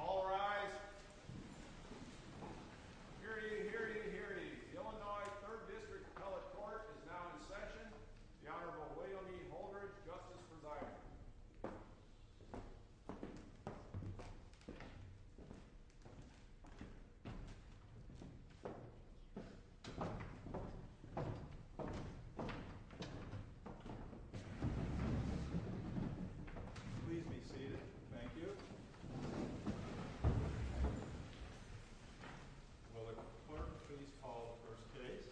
All rise. Hear ye, hear ye, hear ye. The Illinois 3rd District Appellate Court is now in session. The Honorable William E. Holdridge, Justice for Dyer. Please be seated. Thank you. Will the clerk please call the first case.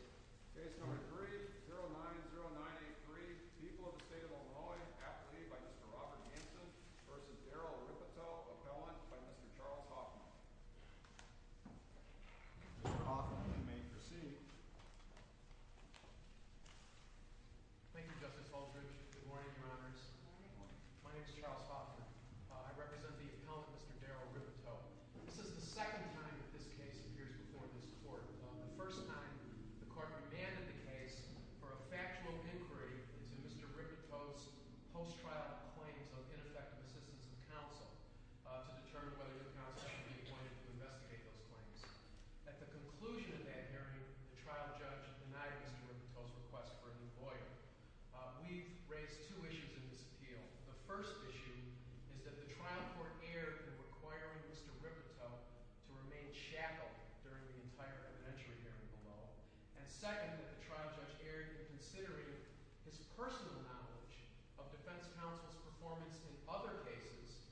Case number three, 090983, People of the State of Illinois, Appellee by Mr. Robert Hanson v. Daryl Rippatoe, Appellant by Mr. Charles Hoffman. Mr. Hoffman, you may proceed. Thank you, Justice Holdridge. Good morning, Your Honors. Good morning. My name is Charles Hoffman. I represent the appellant, Mr. Daryl Rippatoe. This is the second time that this case appears before this court. The first time, the court demanded the case for a factual inquiry into Mr. Rippatoe's post-trial claims of ineffective assistance of counsel to determine whether the counsel should be appointed to investigate those claims. At the conclusion of that hearing, the trial judge denied Mr. Rippatoe's request for a new lawyer. We've raised two issues in this appeal. The first issue is that the trial court erred in requiring Mr. Rippatoe to remain shackled during the entire evidentiary hearing below. And second, that the trial judge erred in considering his personal knowledge of defense counsel's performance in other cases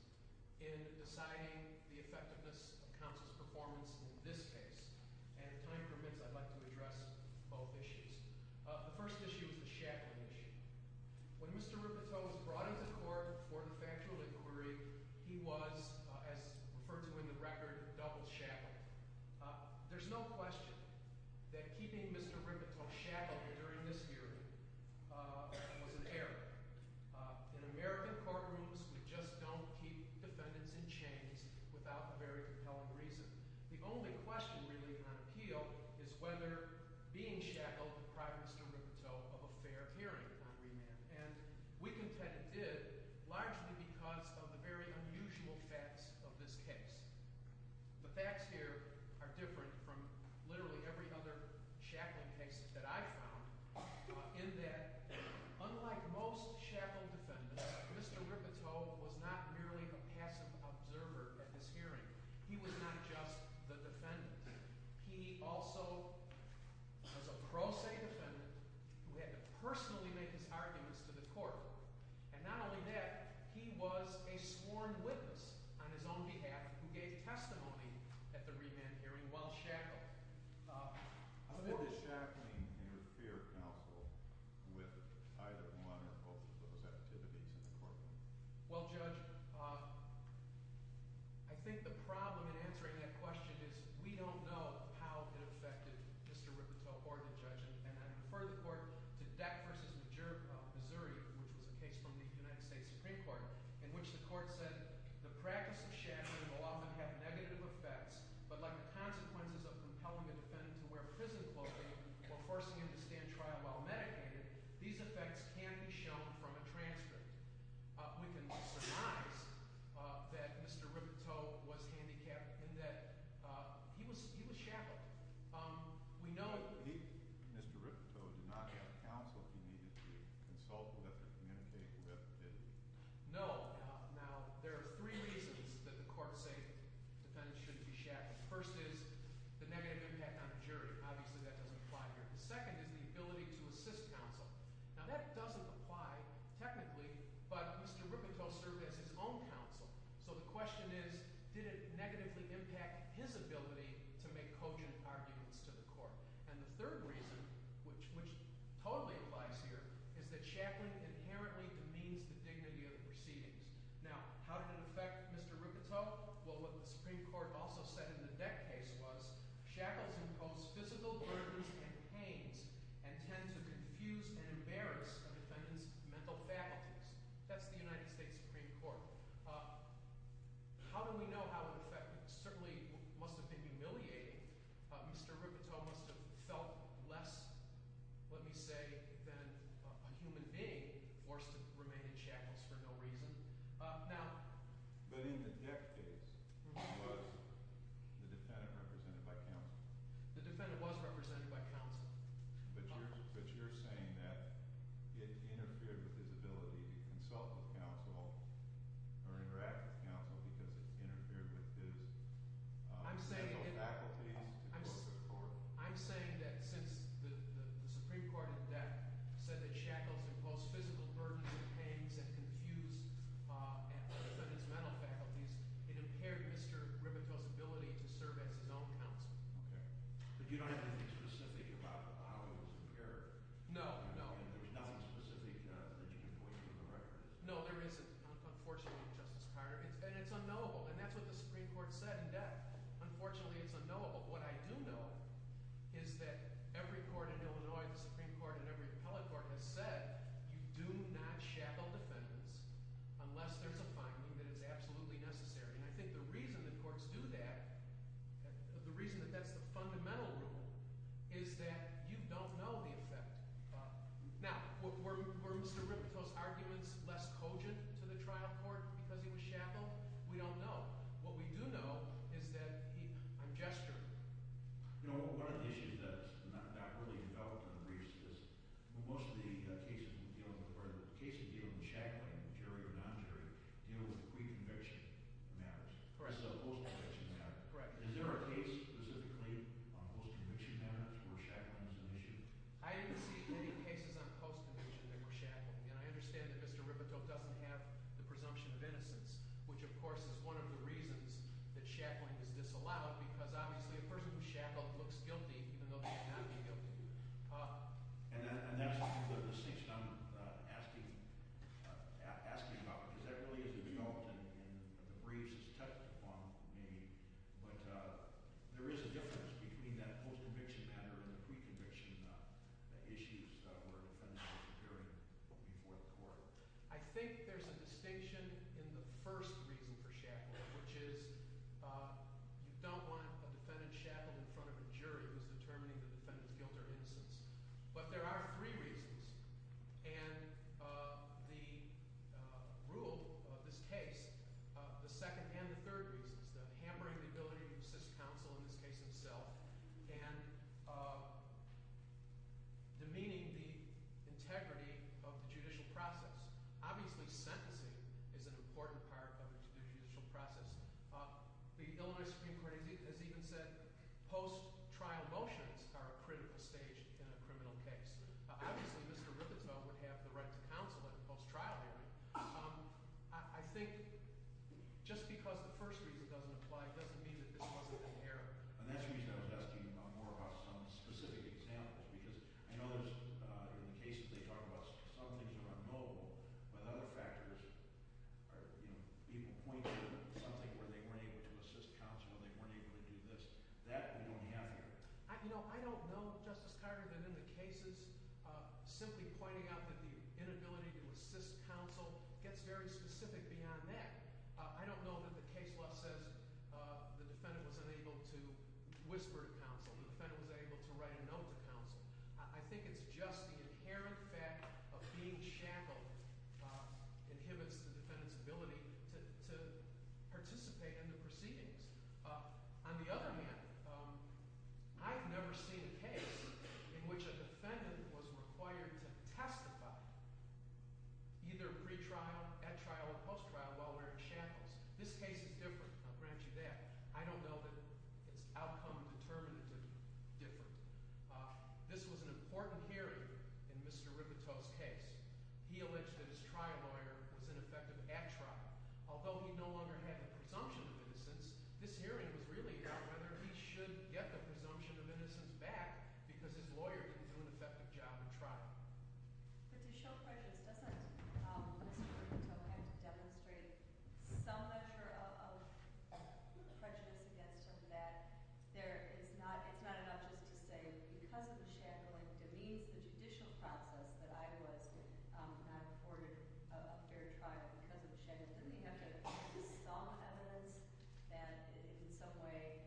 in deciding the effectiveness of counsel's performance in this case. And if time permits, I'd like to address both issues. The first issue is the shackling issue. When Mr. Rippatoe was brought into court for the factual inquiry, he was, as referred to in the record, double shackled. There's no question that keeping Mr. Rippatoe shackled during this hearing was an error. In American courtrooms, we just don't keep defendants in chains without a very compelling reason. The only question really on appeal is whether being shackled deprived Mr. Rippatoe of a fair hearing on remand. And we contend it did, largely because of the very unusual facts of this case. The facts here are different from literally every other shackling case that I've found, in that, unlike most shackled defendants, Mr. Rippatoe was not merely a passive observer at this hearing. He was not just the defendant. He also was a pro se defendant who had to personally make his arguments to the court. And not only that, he was a sworn witness on his own behalf who gave testimony at the remand hearing while shackled. How did this shackling interfere counsel with either one or both of those activities in the courtroom? Well, Judge, I think the problem in answering that question is we don't know how it affected Mr. Rippatoe or the judge. And I refer the court to Deck v. Missouri, which was a case from the United States Supreme Court, in which the court said the practice of shackling will often have negative effects, but like the consequences of compelling a defendant to wear prison clothing or forcing him to stand trial while medicated, these effects can be shown from a transcript. We can be surprised that Mr. Rippatoe was handicapped in that he was shackled. We know- He, Mr. Rippatoe, did not have counsel he needed to consult with or communicate with, did he? No. Now, there are three reasons that the courts say defendants shouldn't be shackled. First is the negative impact on the jury. Obviously, that doesn't apply here. The second is the ability to assist counsel. Now, that doesn't apply technically, but Mr. Rippatoe served as his own counsel. So the question is, did it negatively impact his ability to make cogent arguments to the court? And the third reason, which totally applies here, is that shackling inherently demeans the dignity of the proceedings. Now, how did it affect Mr. Rippatoe? Well, what the Supreme Court also said in the Deck case was shackles impose physical burdens and pains and tend to confuse and embarrass a defendant's mental faculties. That's the United States Supreme Court. How do we know how it affected him? It certainly must have been humiliating. Mr. Rippatoe must have felt less, let me say, than a human being forced to remain in shackles for no reason. But in the Deck case, he was the defendant represented by counsel. The defendant was represented by counsel. But you're saying that it interfered with his ability to consult with counsel or interact with counsel because it interfered with his mental faculties? I'm saying that since the Supreme Court in Deck said that shackles impose physical burdens and pains and confuse a defendant's mental faculties, it impaired Mr. Rippatoe's ability to serve as his own counsel. Okay. But you don't have anything specific about how it was impaired? No, no. There's nothing specific that you can point to in the record? No, there isn't, unfortunately, Justice Carter. And it's unknowable, and that's what the Supreme Court said in Deck. Unfortunately, it's unknowable. What I do know is that every court in Illinois, the Supreme Court and every appellate court has said you do not shackle defendants unless there's a finding that it's absolutely necessary. And I think the reason the courts do that, the reason that that's the fundamental rule, is that you don't know the effect. Now, were Mr. Rippatoe's arguments less cogent to the trial court because he was shackled? We don't know. What we do know is that he – I'm gesturing. One of the issues that's not really developed in the briefs is most of the cases dealing with shackling, jury or non-jury, deal with pre-conviction matters. Correct. So post-conviction matters. Correct. Is there a case specifically on post-conviction matters where shackling is an issue? I didn't see any cases on post-conviction that were shackled. And I understand that Mr. Rippatoe doesn't have the presumption of innocence, which, of course, is one of the reasons that shackling is disallowed because obviously a person who's shackled looks guilty even though they may not be guilty. And that's the distinction I'm asking about because that really isn't developed in the briefs. It's touched upon maybe. But there is a difference between that post-conviction matter and the pre-conviction issues where defendants are securing before the court. I think there's a distinction in the first reason for shackling, which is you don't want a defendant shackled in front of a jury who's determining the defendant's guilt or innocence. But there are three reasons. And the rule of this case, the second and the third reasons, the hammering of the ability to assist counsel in this case himself and demeaning the integrity of the judicial process. Obviously, sentencing is an important part of the judicial process. The Illinois Supreme Court has even said post-trial motions are a critical stage in a criminal case. Obviously, Mr. Rippenfeld would have the right to counsel in a post-trial hearing. I think just because the first reason doesn't apply doesn't mean that this wasn't inherent. And that's the reason I was asking more about some specific examples because I know there's – in the cases they talk about, some things are unknowable. But other factors are – people point to something where they weren't able to assist counsel, they weren't able to do this. That we don't have here. I don't know, Justice Carter, that in the cases simply pointing out that the inability to assist counsel gets very specific beyond that. I don't know that the case law says the defendant was unable to whisper to counsel, the defendant was unable to write a note to counsel. I think it's just the inherent fact of being shackled inhibits the defendant's ability to participate in the proceedings. On the other hand, I've never seen a case in which a defendant was required to testify either pre-trial, at trial, or post-trial while wearing shackles. This case is different. I'll grant you that. I don't know that its outcome determined it to be different. This was an important hearing in Mr. Ripito's case. He alleged that his trial lawyer was ineffective at trial. Although he no longer had the presumption of innocence, this hearing was really about whether he should get the presumption of innocence back because his lawyer didn't do an effective job at trial. But to show prejudice doesn't Mr. Ripito have to demonstrate some measure of prejudice against him that there is not – it's not enough just to say because of the shackling demeans the judicial process that I was not afforded a fair trial because of the shackles. Doesn't he have to produce some evidence that in some way – not just the shackles, but how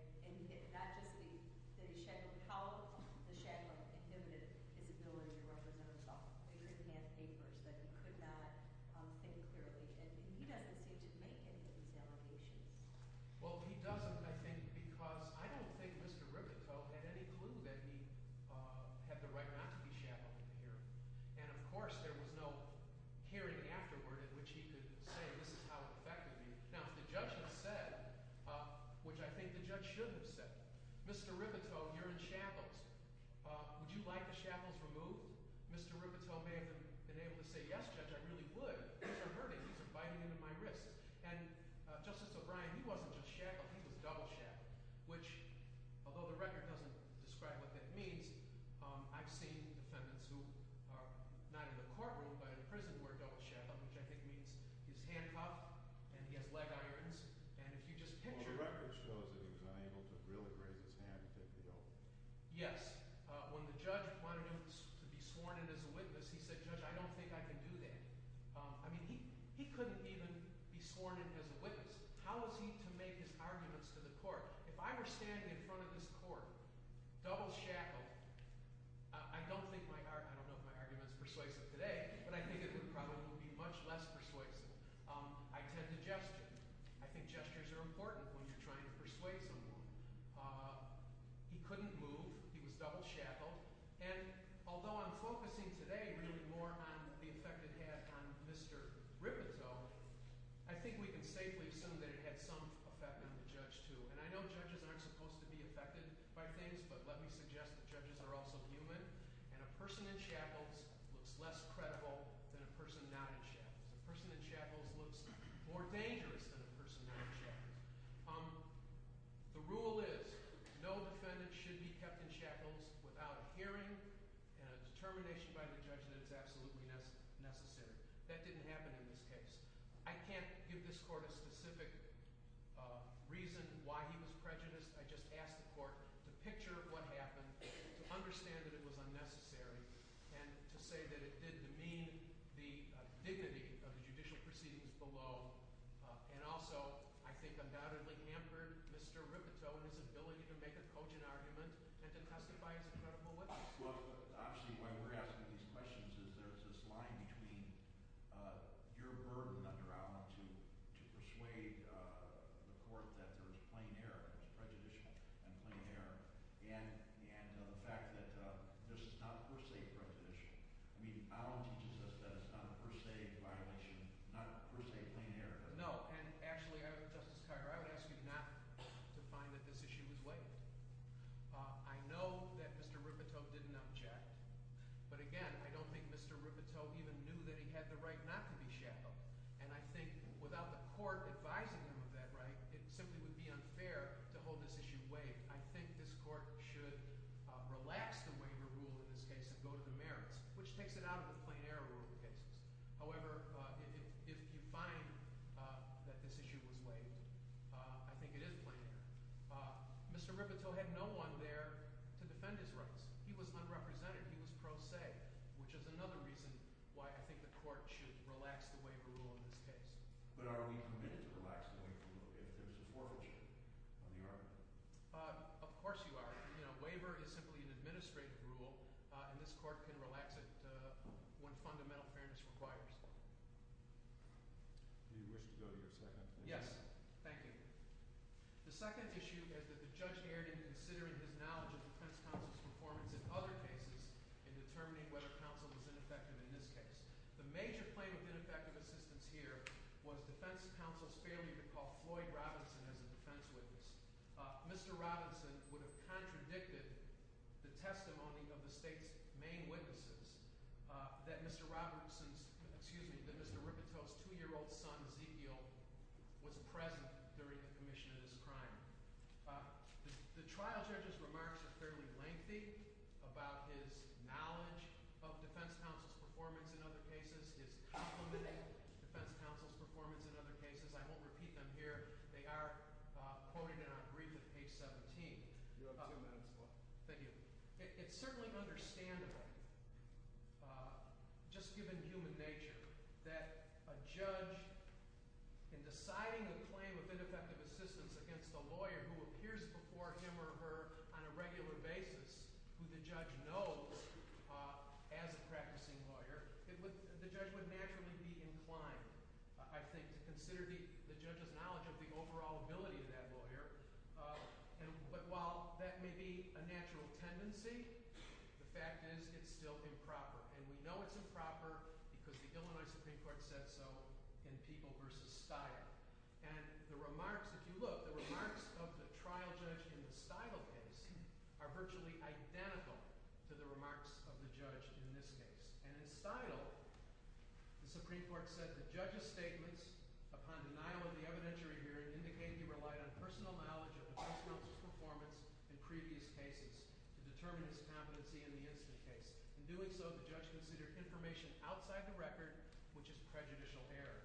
the shackles inhibited his ability to represent himself? He didn't have papers that he could not think clearly. He doesn't seem to make any of these allegations. Well, he doesn't, I think, because I don't think Mr. Ripito had any clue that he had the right not to be shackled in the hearing. And, of course, there was no hearing afterward in which he could say this is how it affected me. Now, if the judge had said, which I think the judge should have said, Mr. Ripito, you're in shackles. Would you like the shackles removed? Mr. Ripito may have been able to say, yes, Judge, I really would. These are hurting. These are biting into my wrists. And Justice O'Brien, he wasn't just shackled. He was double shackled, which although the record doesn't describe what that means, I've seen defendants who are not in the courtroom but in prison who are double shackled, which I think means he's handcuffed and he has leg irons. And if you just picture – Well, the record shows that he was unable to really raise his hand and take the oath. Yes. When the judge wanted him to be sworn in as a witness, he said, Judge, I don't think I can do that. I mean he couldn't even be sworn in as a witness. How was he to make his arguments to the court? If I were standing in front of this court double shackled, I don't think my – I don't know if my argument is persuasive today, but I think it would probably be much less persuasive. I tend to gesture. I think gestures are important when you're trying to persuade someone. He couldn't move. He was double shackled. And although I'm focusing today really more on the effect it had on Mr. Ripito, I think we can safely assume that it had some effect on the judge too. And I know judges aren't supposed to be affected by things, but let me suggest that judges are also human. And a person in shackles looks less credible than a person not in shackles. A person in shackles looks more dangerous than a person not in shackles. The rule is no defendant should be kept in shackles without a hearing and a determination by the judge that it's absolutely necessary. That didn't happen in this case. I can't give this court a specific reason why he was prejudiced. I just asked the court to picture what happened, to understand that it was unnecessary, and to say that it did demean the dignity of the judicial proceedings below. And also, I think undoubtedly hampered Mr. Ripito and his ability to make a cogent argument and to testify as a credible witness. Well, actually, why we're asking these questions is there's this line between your burden under Allen to persuade the court that there's plain error, there's prejudicial and plain error. And the fact that this is not per se prejudicial. I mean, Allen teaches us that it's not a per se violation, not a per se plain error. No, and actually, Justice Carter, I would ask you not to find that this issue is waived. I know that Mr. Ripito didn't object. But again, I don't think Mr. Ripito even knew that he had the right not to be shackled. And I think without the court advising him of that right, it simply would be unfair to hold this issue waived. I think this court should relax the waiver rule in this case and go to the merits, which takes it out of the plain error rule cases. However, if you find that this issue was waived, I think it is plain error. Mr. Ripito had no one there to defend his rights. He was unrepresented. He was pro se, which is another reason why I think the court should relax the waiver rule in this case. But are we committed to relax the waiver rule if there's a forfeiture on the argument? Of course you are. Waiver is simply an administrative rule, and this court can relax it when fundamental fairness requires it. Do you wish to go to your second? Yes. Thank you. The second issue is that the judge erred in considering his knowledge of defense counsel's performance in other cases in determining whether counsel was ineffective in this case. The major claim of ineffective assistance here was defense counsel's failure to call Floyd Robinson as a defense witness. Mr. Robinson would have contradicted the testimony of the state's main witnesses that Mr. Ripito's two-year-old son, Zekiel, was present during the commission of this crime. The trial judge's remarks are fairly lengthy about his knowledge of defense counsel's performance in other cases, his complimenting defense counsel's performance in other cases. I won't repeat them here. They are quoted in our brief at page 17. You have two minutes, Floyd. Thank you. It's certainly understandable, just given human nature, that a judge, in deciding the claim of ineffective assistance against a lawyer who appears before him or her on a regular basis, who the judge knows as a practicing lawyer, the judge would naturally be inclined, I think, to consider the judge's knowledge of the overall ability of that lawyer. But while that may be a natural tendency, the fact is it's still improper. And we know it's improper because the Illinois Supreme Court said so in People v. Steidle. And the remarks, if you look, the remarks of the trial judge in the Steidle case are virtually identical to the remarks of the judge in this case. And in Steidle, the Supreme Court said the judge's statements upon denial of the evidentiary hearing indicate he relied on personal knowledge of the defense counsel's performance in previous cases to determine his competency in the instant case. In doing so, the judge considered information outside the record, which is prejudicial error.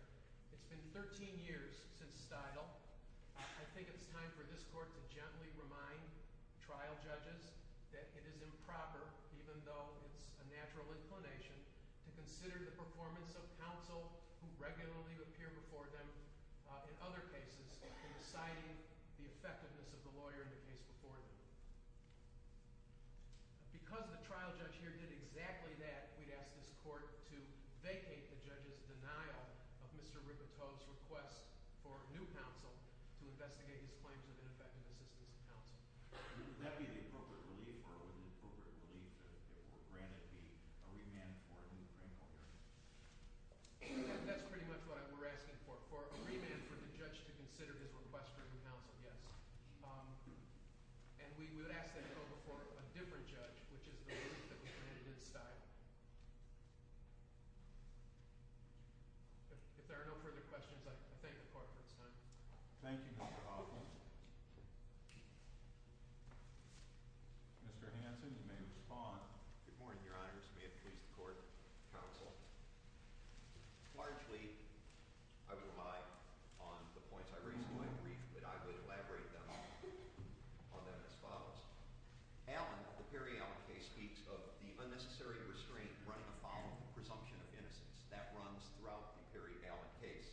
It's been 13 years since Steidle. I think it's time for this court to gently remind trial judges that it is improper, even though it's a natural inclination, to consider the performance of counsel who regularly appear before them in other cases in deciding the effectiveness of the lawyer in the case before them. Because the trial judge here did exactly that, we'd ask this court to vacate the judge's denial of Mr. Rigato's request for new counsel to investigate his claims of ineffective assistance in counsel. Would that be the appropriate relief or would the appropriate relief, if granted, be a remand for a new criminal hearing? That's pretty much what we're asking for. For a remand for the judge to consider this request for new counsel, yes. And we would ask that it go before a different judge, which is the relief that we've committed to Steidle. If there are no further questions, I thank the court for its time. Thank you, Mr. Oglin. Mr. Hanson, you may respond. Good morning, Your Honors. May it please the court, counsel. Largely, I would rely on the points I raised in my brief, but I would elaborate on them as follows. Allen, the Perry-Allen case, speaks of the unnecessary restraint running afoul of the presumption of innocence. That runs throughout the Perry-Allen case.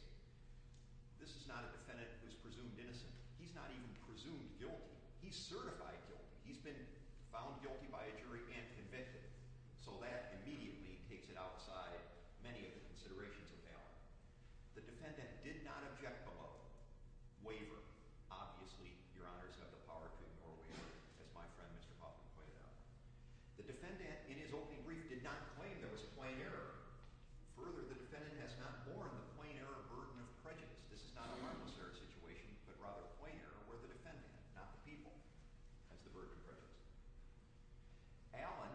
This is not a defendant who's presumed innocent. He's not even presumed guilty. He's certified guilty. He's been found guilty by a jury and convicted. So that immediately takes it outside many of the considerations of Allen. The defendant did not object below. Waiver. Obviously, Your Honors have the power to ignore waiver, as my friend, Mr. Hoffman, pointed out. The defendant, in his opening brief, did not claim there was a plain error. Further, the defendant has not borne the plain error burden of prejudice. This is not a harmless error situation, but rather a plain error where the defendant, not the people, has the burden of prejudice. Allen,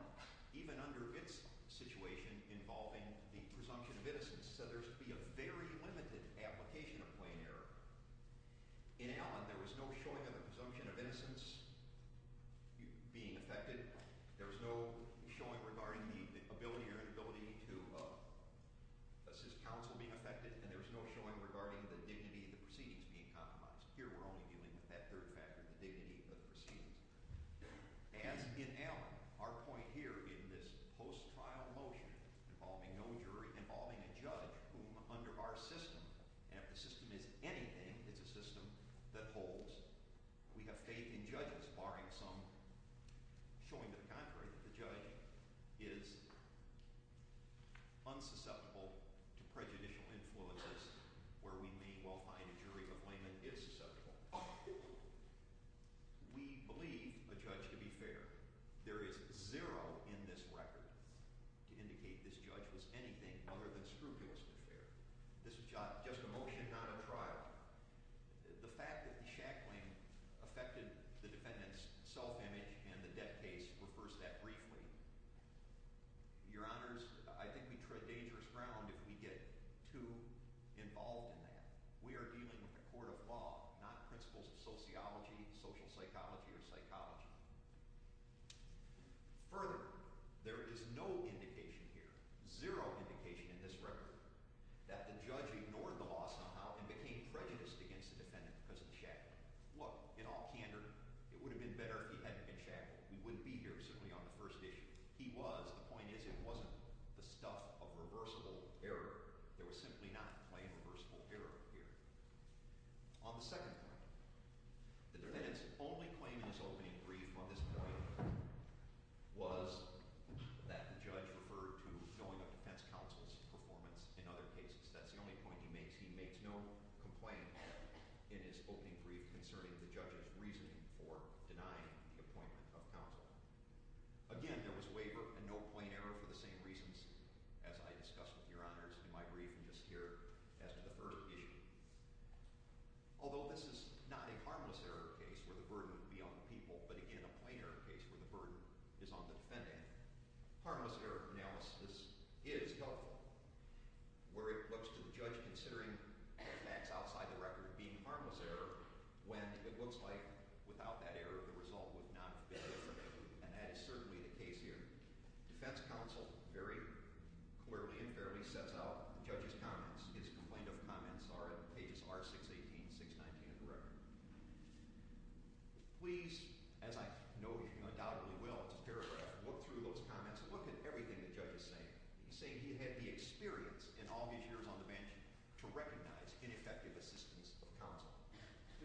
even under its situation involving the presumption of innocence, said there's to be a very limited application of plain error. In Allen, there was no showing of the presumption of innocence being affected. There was no showing regarding the ability or inability to assist counsel being affected, and there was no showing regarding the dignity of the proceedings being compromised. Here we're only dealing with that third factor, the dignity of the proceedings. As in Allen, our point here in this post-trial motion involving no jury, involving a judge whom, under our system, and if the system is anything, it's a system that holds. We have faith in judges, barring some showing to the contrary that the judge is unsusceptible to prejudicial influences where we may well find a jury of laymen is susceptible. We believe a judge to be fair. There is zero in this record to indicate this judge was anything other than scrupulously fair. This is just a motion, not a trial. The fact that the shackling affected the defendant's self-image and the debt case refers to that briefly. Your Honors, I think we tread dangerous ground if we get too involved in that. We are dealing with a court of law, not principles of sociology, social psychology, or psychology. Further, there is no indication here, zero indication in this record, that the judge ignored the law somehow and became prejudiced against the defendant because of the shackling. Look, in all candor, it would have been better if he hadn't been shackled. We wouldn't be here, certainly, on the first issue. He was. The point is it wasn't the stuff of reversible error. There was simply not plain reversible error here. On the second point, the defendant's only claim in his opening brief on this point was that the judge referred to knowing of defense counsel's performance in other cases. That's the only point he makes. There is no complaint in his opening brief concerning the judge's reasoning for denying the appointment of counsel. Again, there was waiver and no plain error for the same reasons as I discussed with Your Honors in my brief and just here as to the first issue. Although this is not a harmless error case where the burden would be on the people, but again a plain error case where the burden is on the defendant, harmless error analysis is helpful. Where it looks to the judge considering facts outside the record of being harmless error when it looks like without that error the result would not have been different, and that is certainly the case here. Defense counsel very clearly and fairly sets out the judge's comments. His complaint of comments are in pages R618 and R619 of the record. Please, as I know you undoubtedly will, it's a paragraph, look through those comments and look at everything the judge is saying. He's saying he had the experience in all these years on the bench to recognize ineffective assistance of counsel.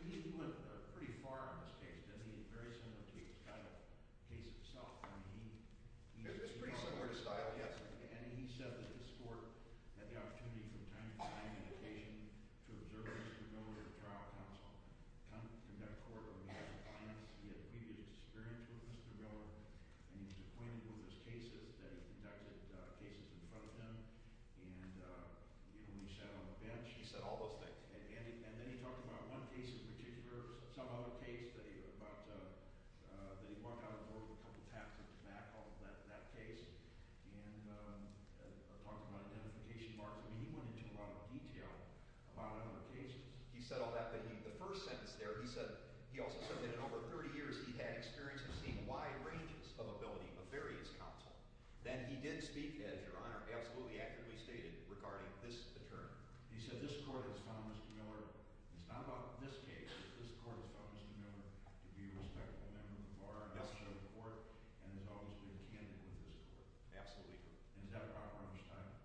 He went pretty far on this case, didn't he? Very similar to the style of the case itself. It's pretty similar to style, yes. And he said that his court had the opportunity from time to time and occasion to observe Mr. Miller for trial counsel. Conduct court where he had the chance, he had previous experience with Mr. Miller, and he was acquainted with his cases, that he conducted cases in front of him, and even when he sat on the bench. He said all those things. And then he talked about one case in particular, some other case, that he walked out of the door with a couple taps at his back on that case, and talked about identification marks. I mean he went into a lot of detail about other cases. He said all that, but the first sentence there, he said he also said that in over 30 years he'd had experience of seeing wide ranges of ability of various counsel. Then he did speak, as Your Honor absolutely accurately stated, regarding this attorney. He said this court has found Mr. Miller, it's not about this case, but this court has found Mr. Miller to be a respectable member of the bar, a member of the court, and has always been candid with this court. Absolutely. And is that a proper understanding?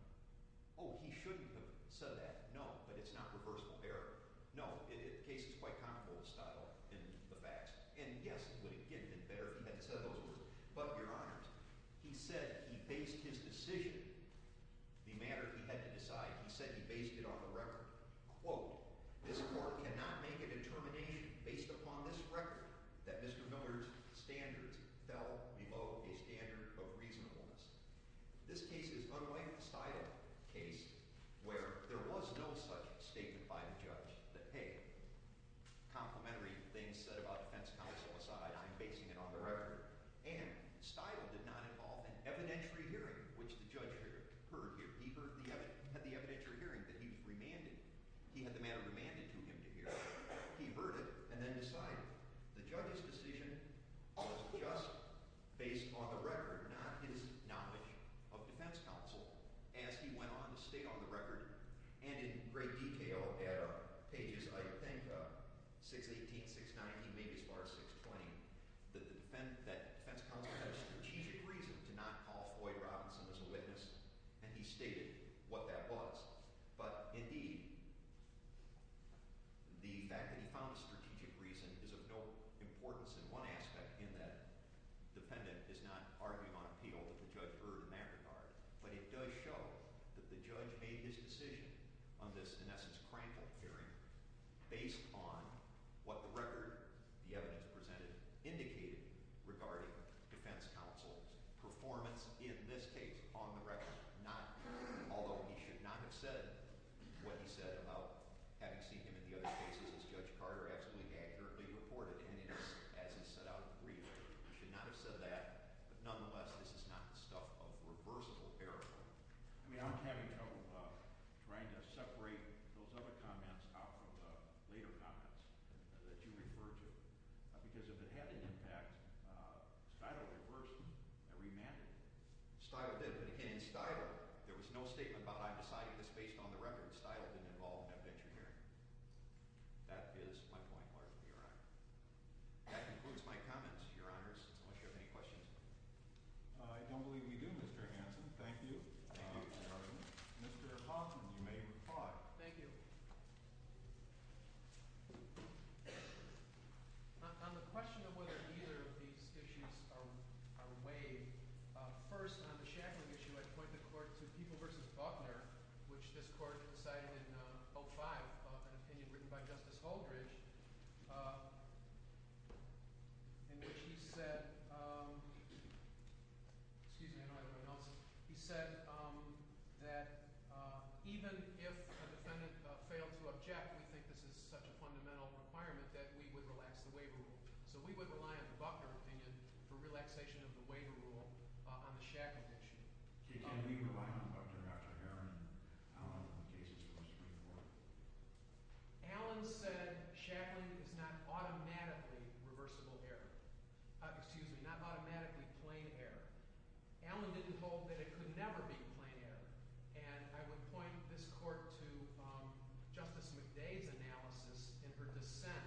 Oh, he shouldn't have said that. No, but it's not reversible error. No, the case is quite comparable to style in the facts. And yes, would it get any better if he had said those words? But, Your Honors, he said he based his decision, the matter he had to decide, he said he based it on the record. Quote, this court cannot make a determination based upon this record that Mr. Miller's standards fell below a standard of reasonableness. This case is unlike the style case where there was no such statement by the judge that, hey, complimentary things said about defense counsel aside, I'm basing it on the record. And style did not involve an evidentiary hearing, which the judge heard here. He had the evidentiary hearing that he was remanded. He had the matter remanded to him to hear. He heard it and then decided. The judge's decision was just based on the record, not his knowledge of defense counsel as he went on to state on the record and in great detail at pages, I think, 618, 619, maybe as far as 620, that the defense counsel had a strategic reason to not call Floyd Robinson as a witness, and he stated what that was. But, indeed, the fact that he found a strategic reason is of no importance in one aspect, in that the defendant is not arguing on appeal that the judge heard in that regard. But it does show that the judge made his decision on this, in essence, crankled hearing based on what the record, the evidence presented, indicated regarding defense counsel's performance in this case on the record. Not, although he should not have said what he said about having seen him in the other cases as Judge Carter actually accurately reported, and as he set out in the brief, he should not have said that. But, nonetheless, this is not the stuff of reversible error. I mean, I'm having trouble trying to separate those other comments out from the later comments that you referred to, because if it had an impact, Stilwell reversed them and remanded them. Stilwell did, but, again, in Stilwell, there was no statement about, I'm deciding this based on the record. Stilwell didn't involve an evidentiary hearing. That is my point largely, Your Honor. That concludes my comment, Your Honors, unless you have any questions. I don't believe we do, Mr. Hanson. Thank you. Mr. Hoffman, you may reply. Thank you. On the question of whether either of these issues are weighed, first, on the shackling issue, I point the court to People v. Buckner, which this court decided in 05, an opinion written by Justice Holdridge. In which he said—excuse me, I don't know how to pronounce it. He said that even if a defendant failed to object, we think this is such a fundamental requirement that we would relax the waiver rule. So we would rely on the Buckner opinion for relaxation of the waiver rule on the shackling issue. Okay, can we rely on Buckner, Dr. Harron, and Allen on the cases in which we report? Allen said shackling is not automatically reversible error. Excuse me, not automatically plain error. Allen didn't hold that it could never be plain error. And I would point this court to Justice McDade's analysis in her dissent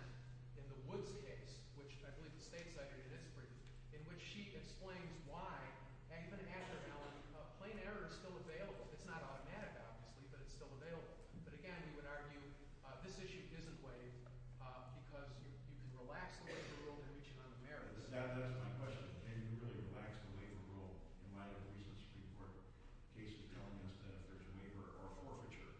in the Woods case, which I believe the State Secretary did its brief, in which she explains why, even after Allen, plain error is still available. It's not automatic, obviously, but it's still available. But again, he would argue this issue isn't waived because you can relax the waiver rule and reach it on the merits. That's my question. Can you really relax the waiver rule in light of the recent Supreme Court cases telling us that if there's a waiver or a forfeiture,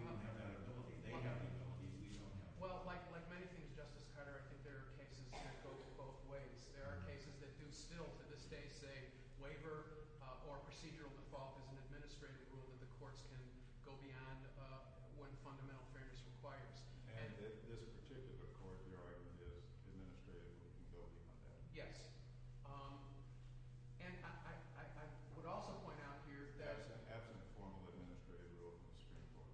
we don't have that ability. They have the ability, we don't have the ability. Well, like many things, Justice Carter, I think there are cases that go both ways. There are cases that do still to this day say that if a waiver or procedural default is an administrative rule, that the courts can go beyond what fundamental fairness requires. And in this particular court, the argument is administrative rule. Yes. And I would also point out here that – That's an absent formal administrative rule from the Supreme Court.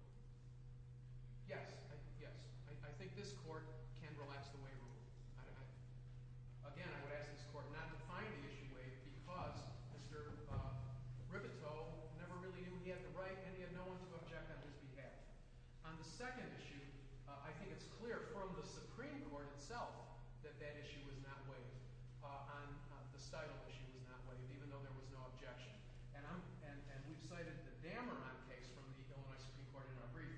Yes, yes. I think this court can relax the waiver rule. Again, I would ask this court not to find the issue waived because Mr. Ripetoe never really knew he had the right and he had no one to object on his behalf. On the second issue, I think it's clear from the Supreme Court itself that that issue was not waived, the stitle issue was not waived, even though there was no objection. And we've cited the Dameron case from the Illinois Supreme Court in our brief.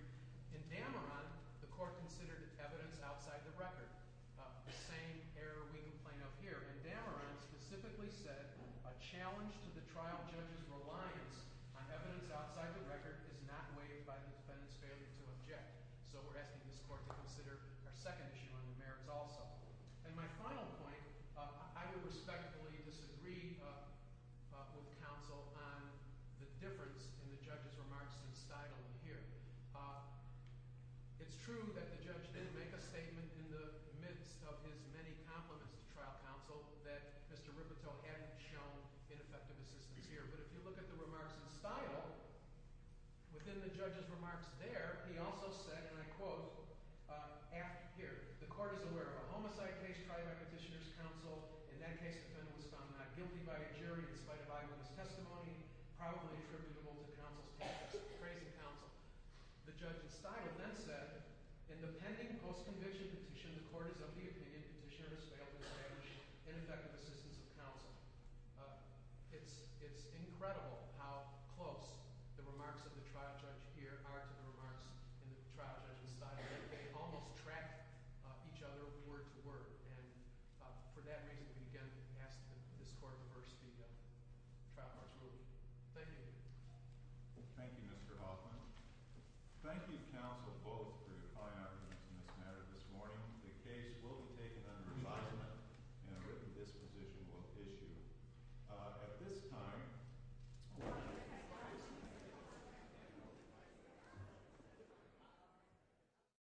In Dameron, the court considered evidence outside the record. The same error we complain of here. And Dameron specifically said, a challenge to the trial judge's reliance on evidence outside the record is not waived by the defendant's failure to object. So we're asking this court to consider our second issue on the merits also. And my final point, I would respectfully disagree with counsel on the difference in the judge's remarks to the stitle here. It's true that the judge didn't make a statement in the midst of his many compliments to trial counsel that Mr. Ripetoe hadn't shown ineffective assistance here. But if you look at the remarks in stitle, within the judge's remarks there, he also said, and I quote, here, the court is aware of a homicide case tried by Petitioner's counsel. In that case, the defendant was found not guilty by a jury in spite of eyewitness testimony, probably attributable to counsel's tactics of praising counsel. The judge in stitle then said, in the pending post-conviction petition, the court is of the opinion that Petitioner has failed to establish ineffective assistance of counsel. It's incredible how close the remarks of the trial judge here are to the remarks of the trial judge in stitle. They almost track each other word to word. And for that reason, we again ask that this court reverse the trial court's ruling. Thank you. Thank you, Mr. Hoffman. Thank you, counsel, both, for your high arguments in this matter this morning. The case will be taken under advisement, and a written disposition will issue. At this time—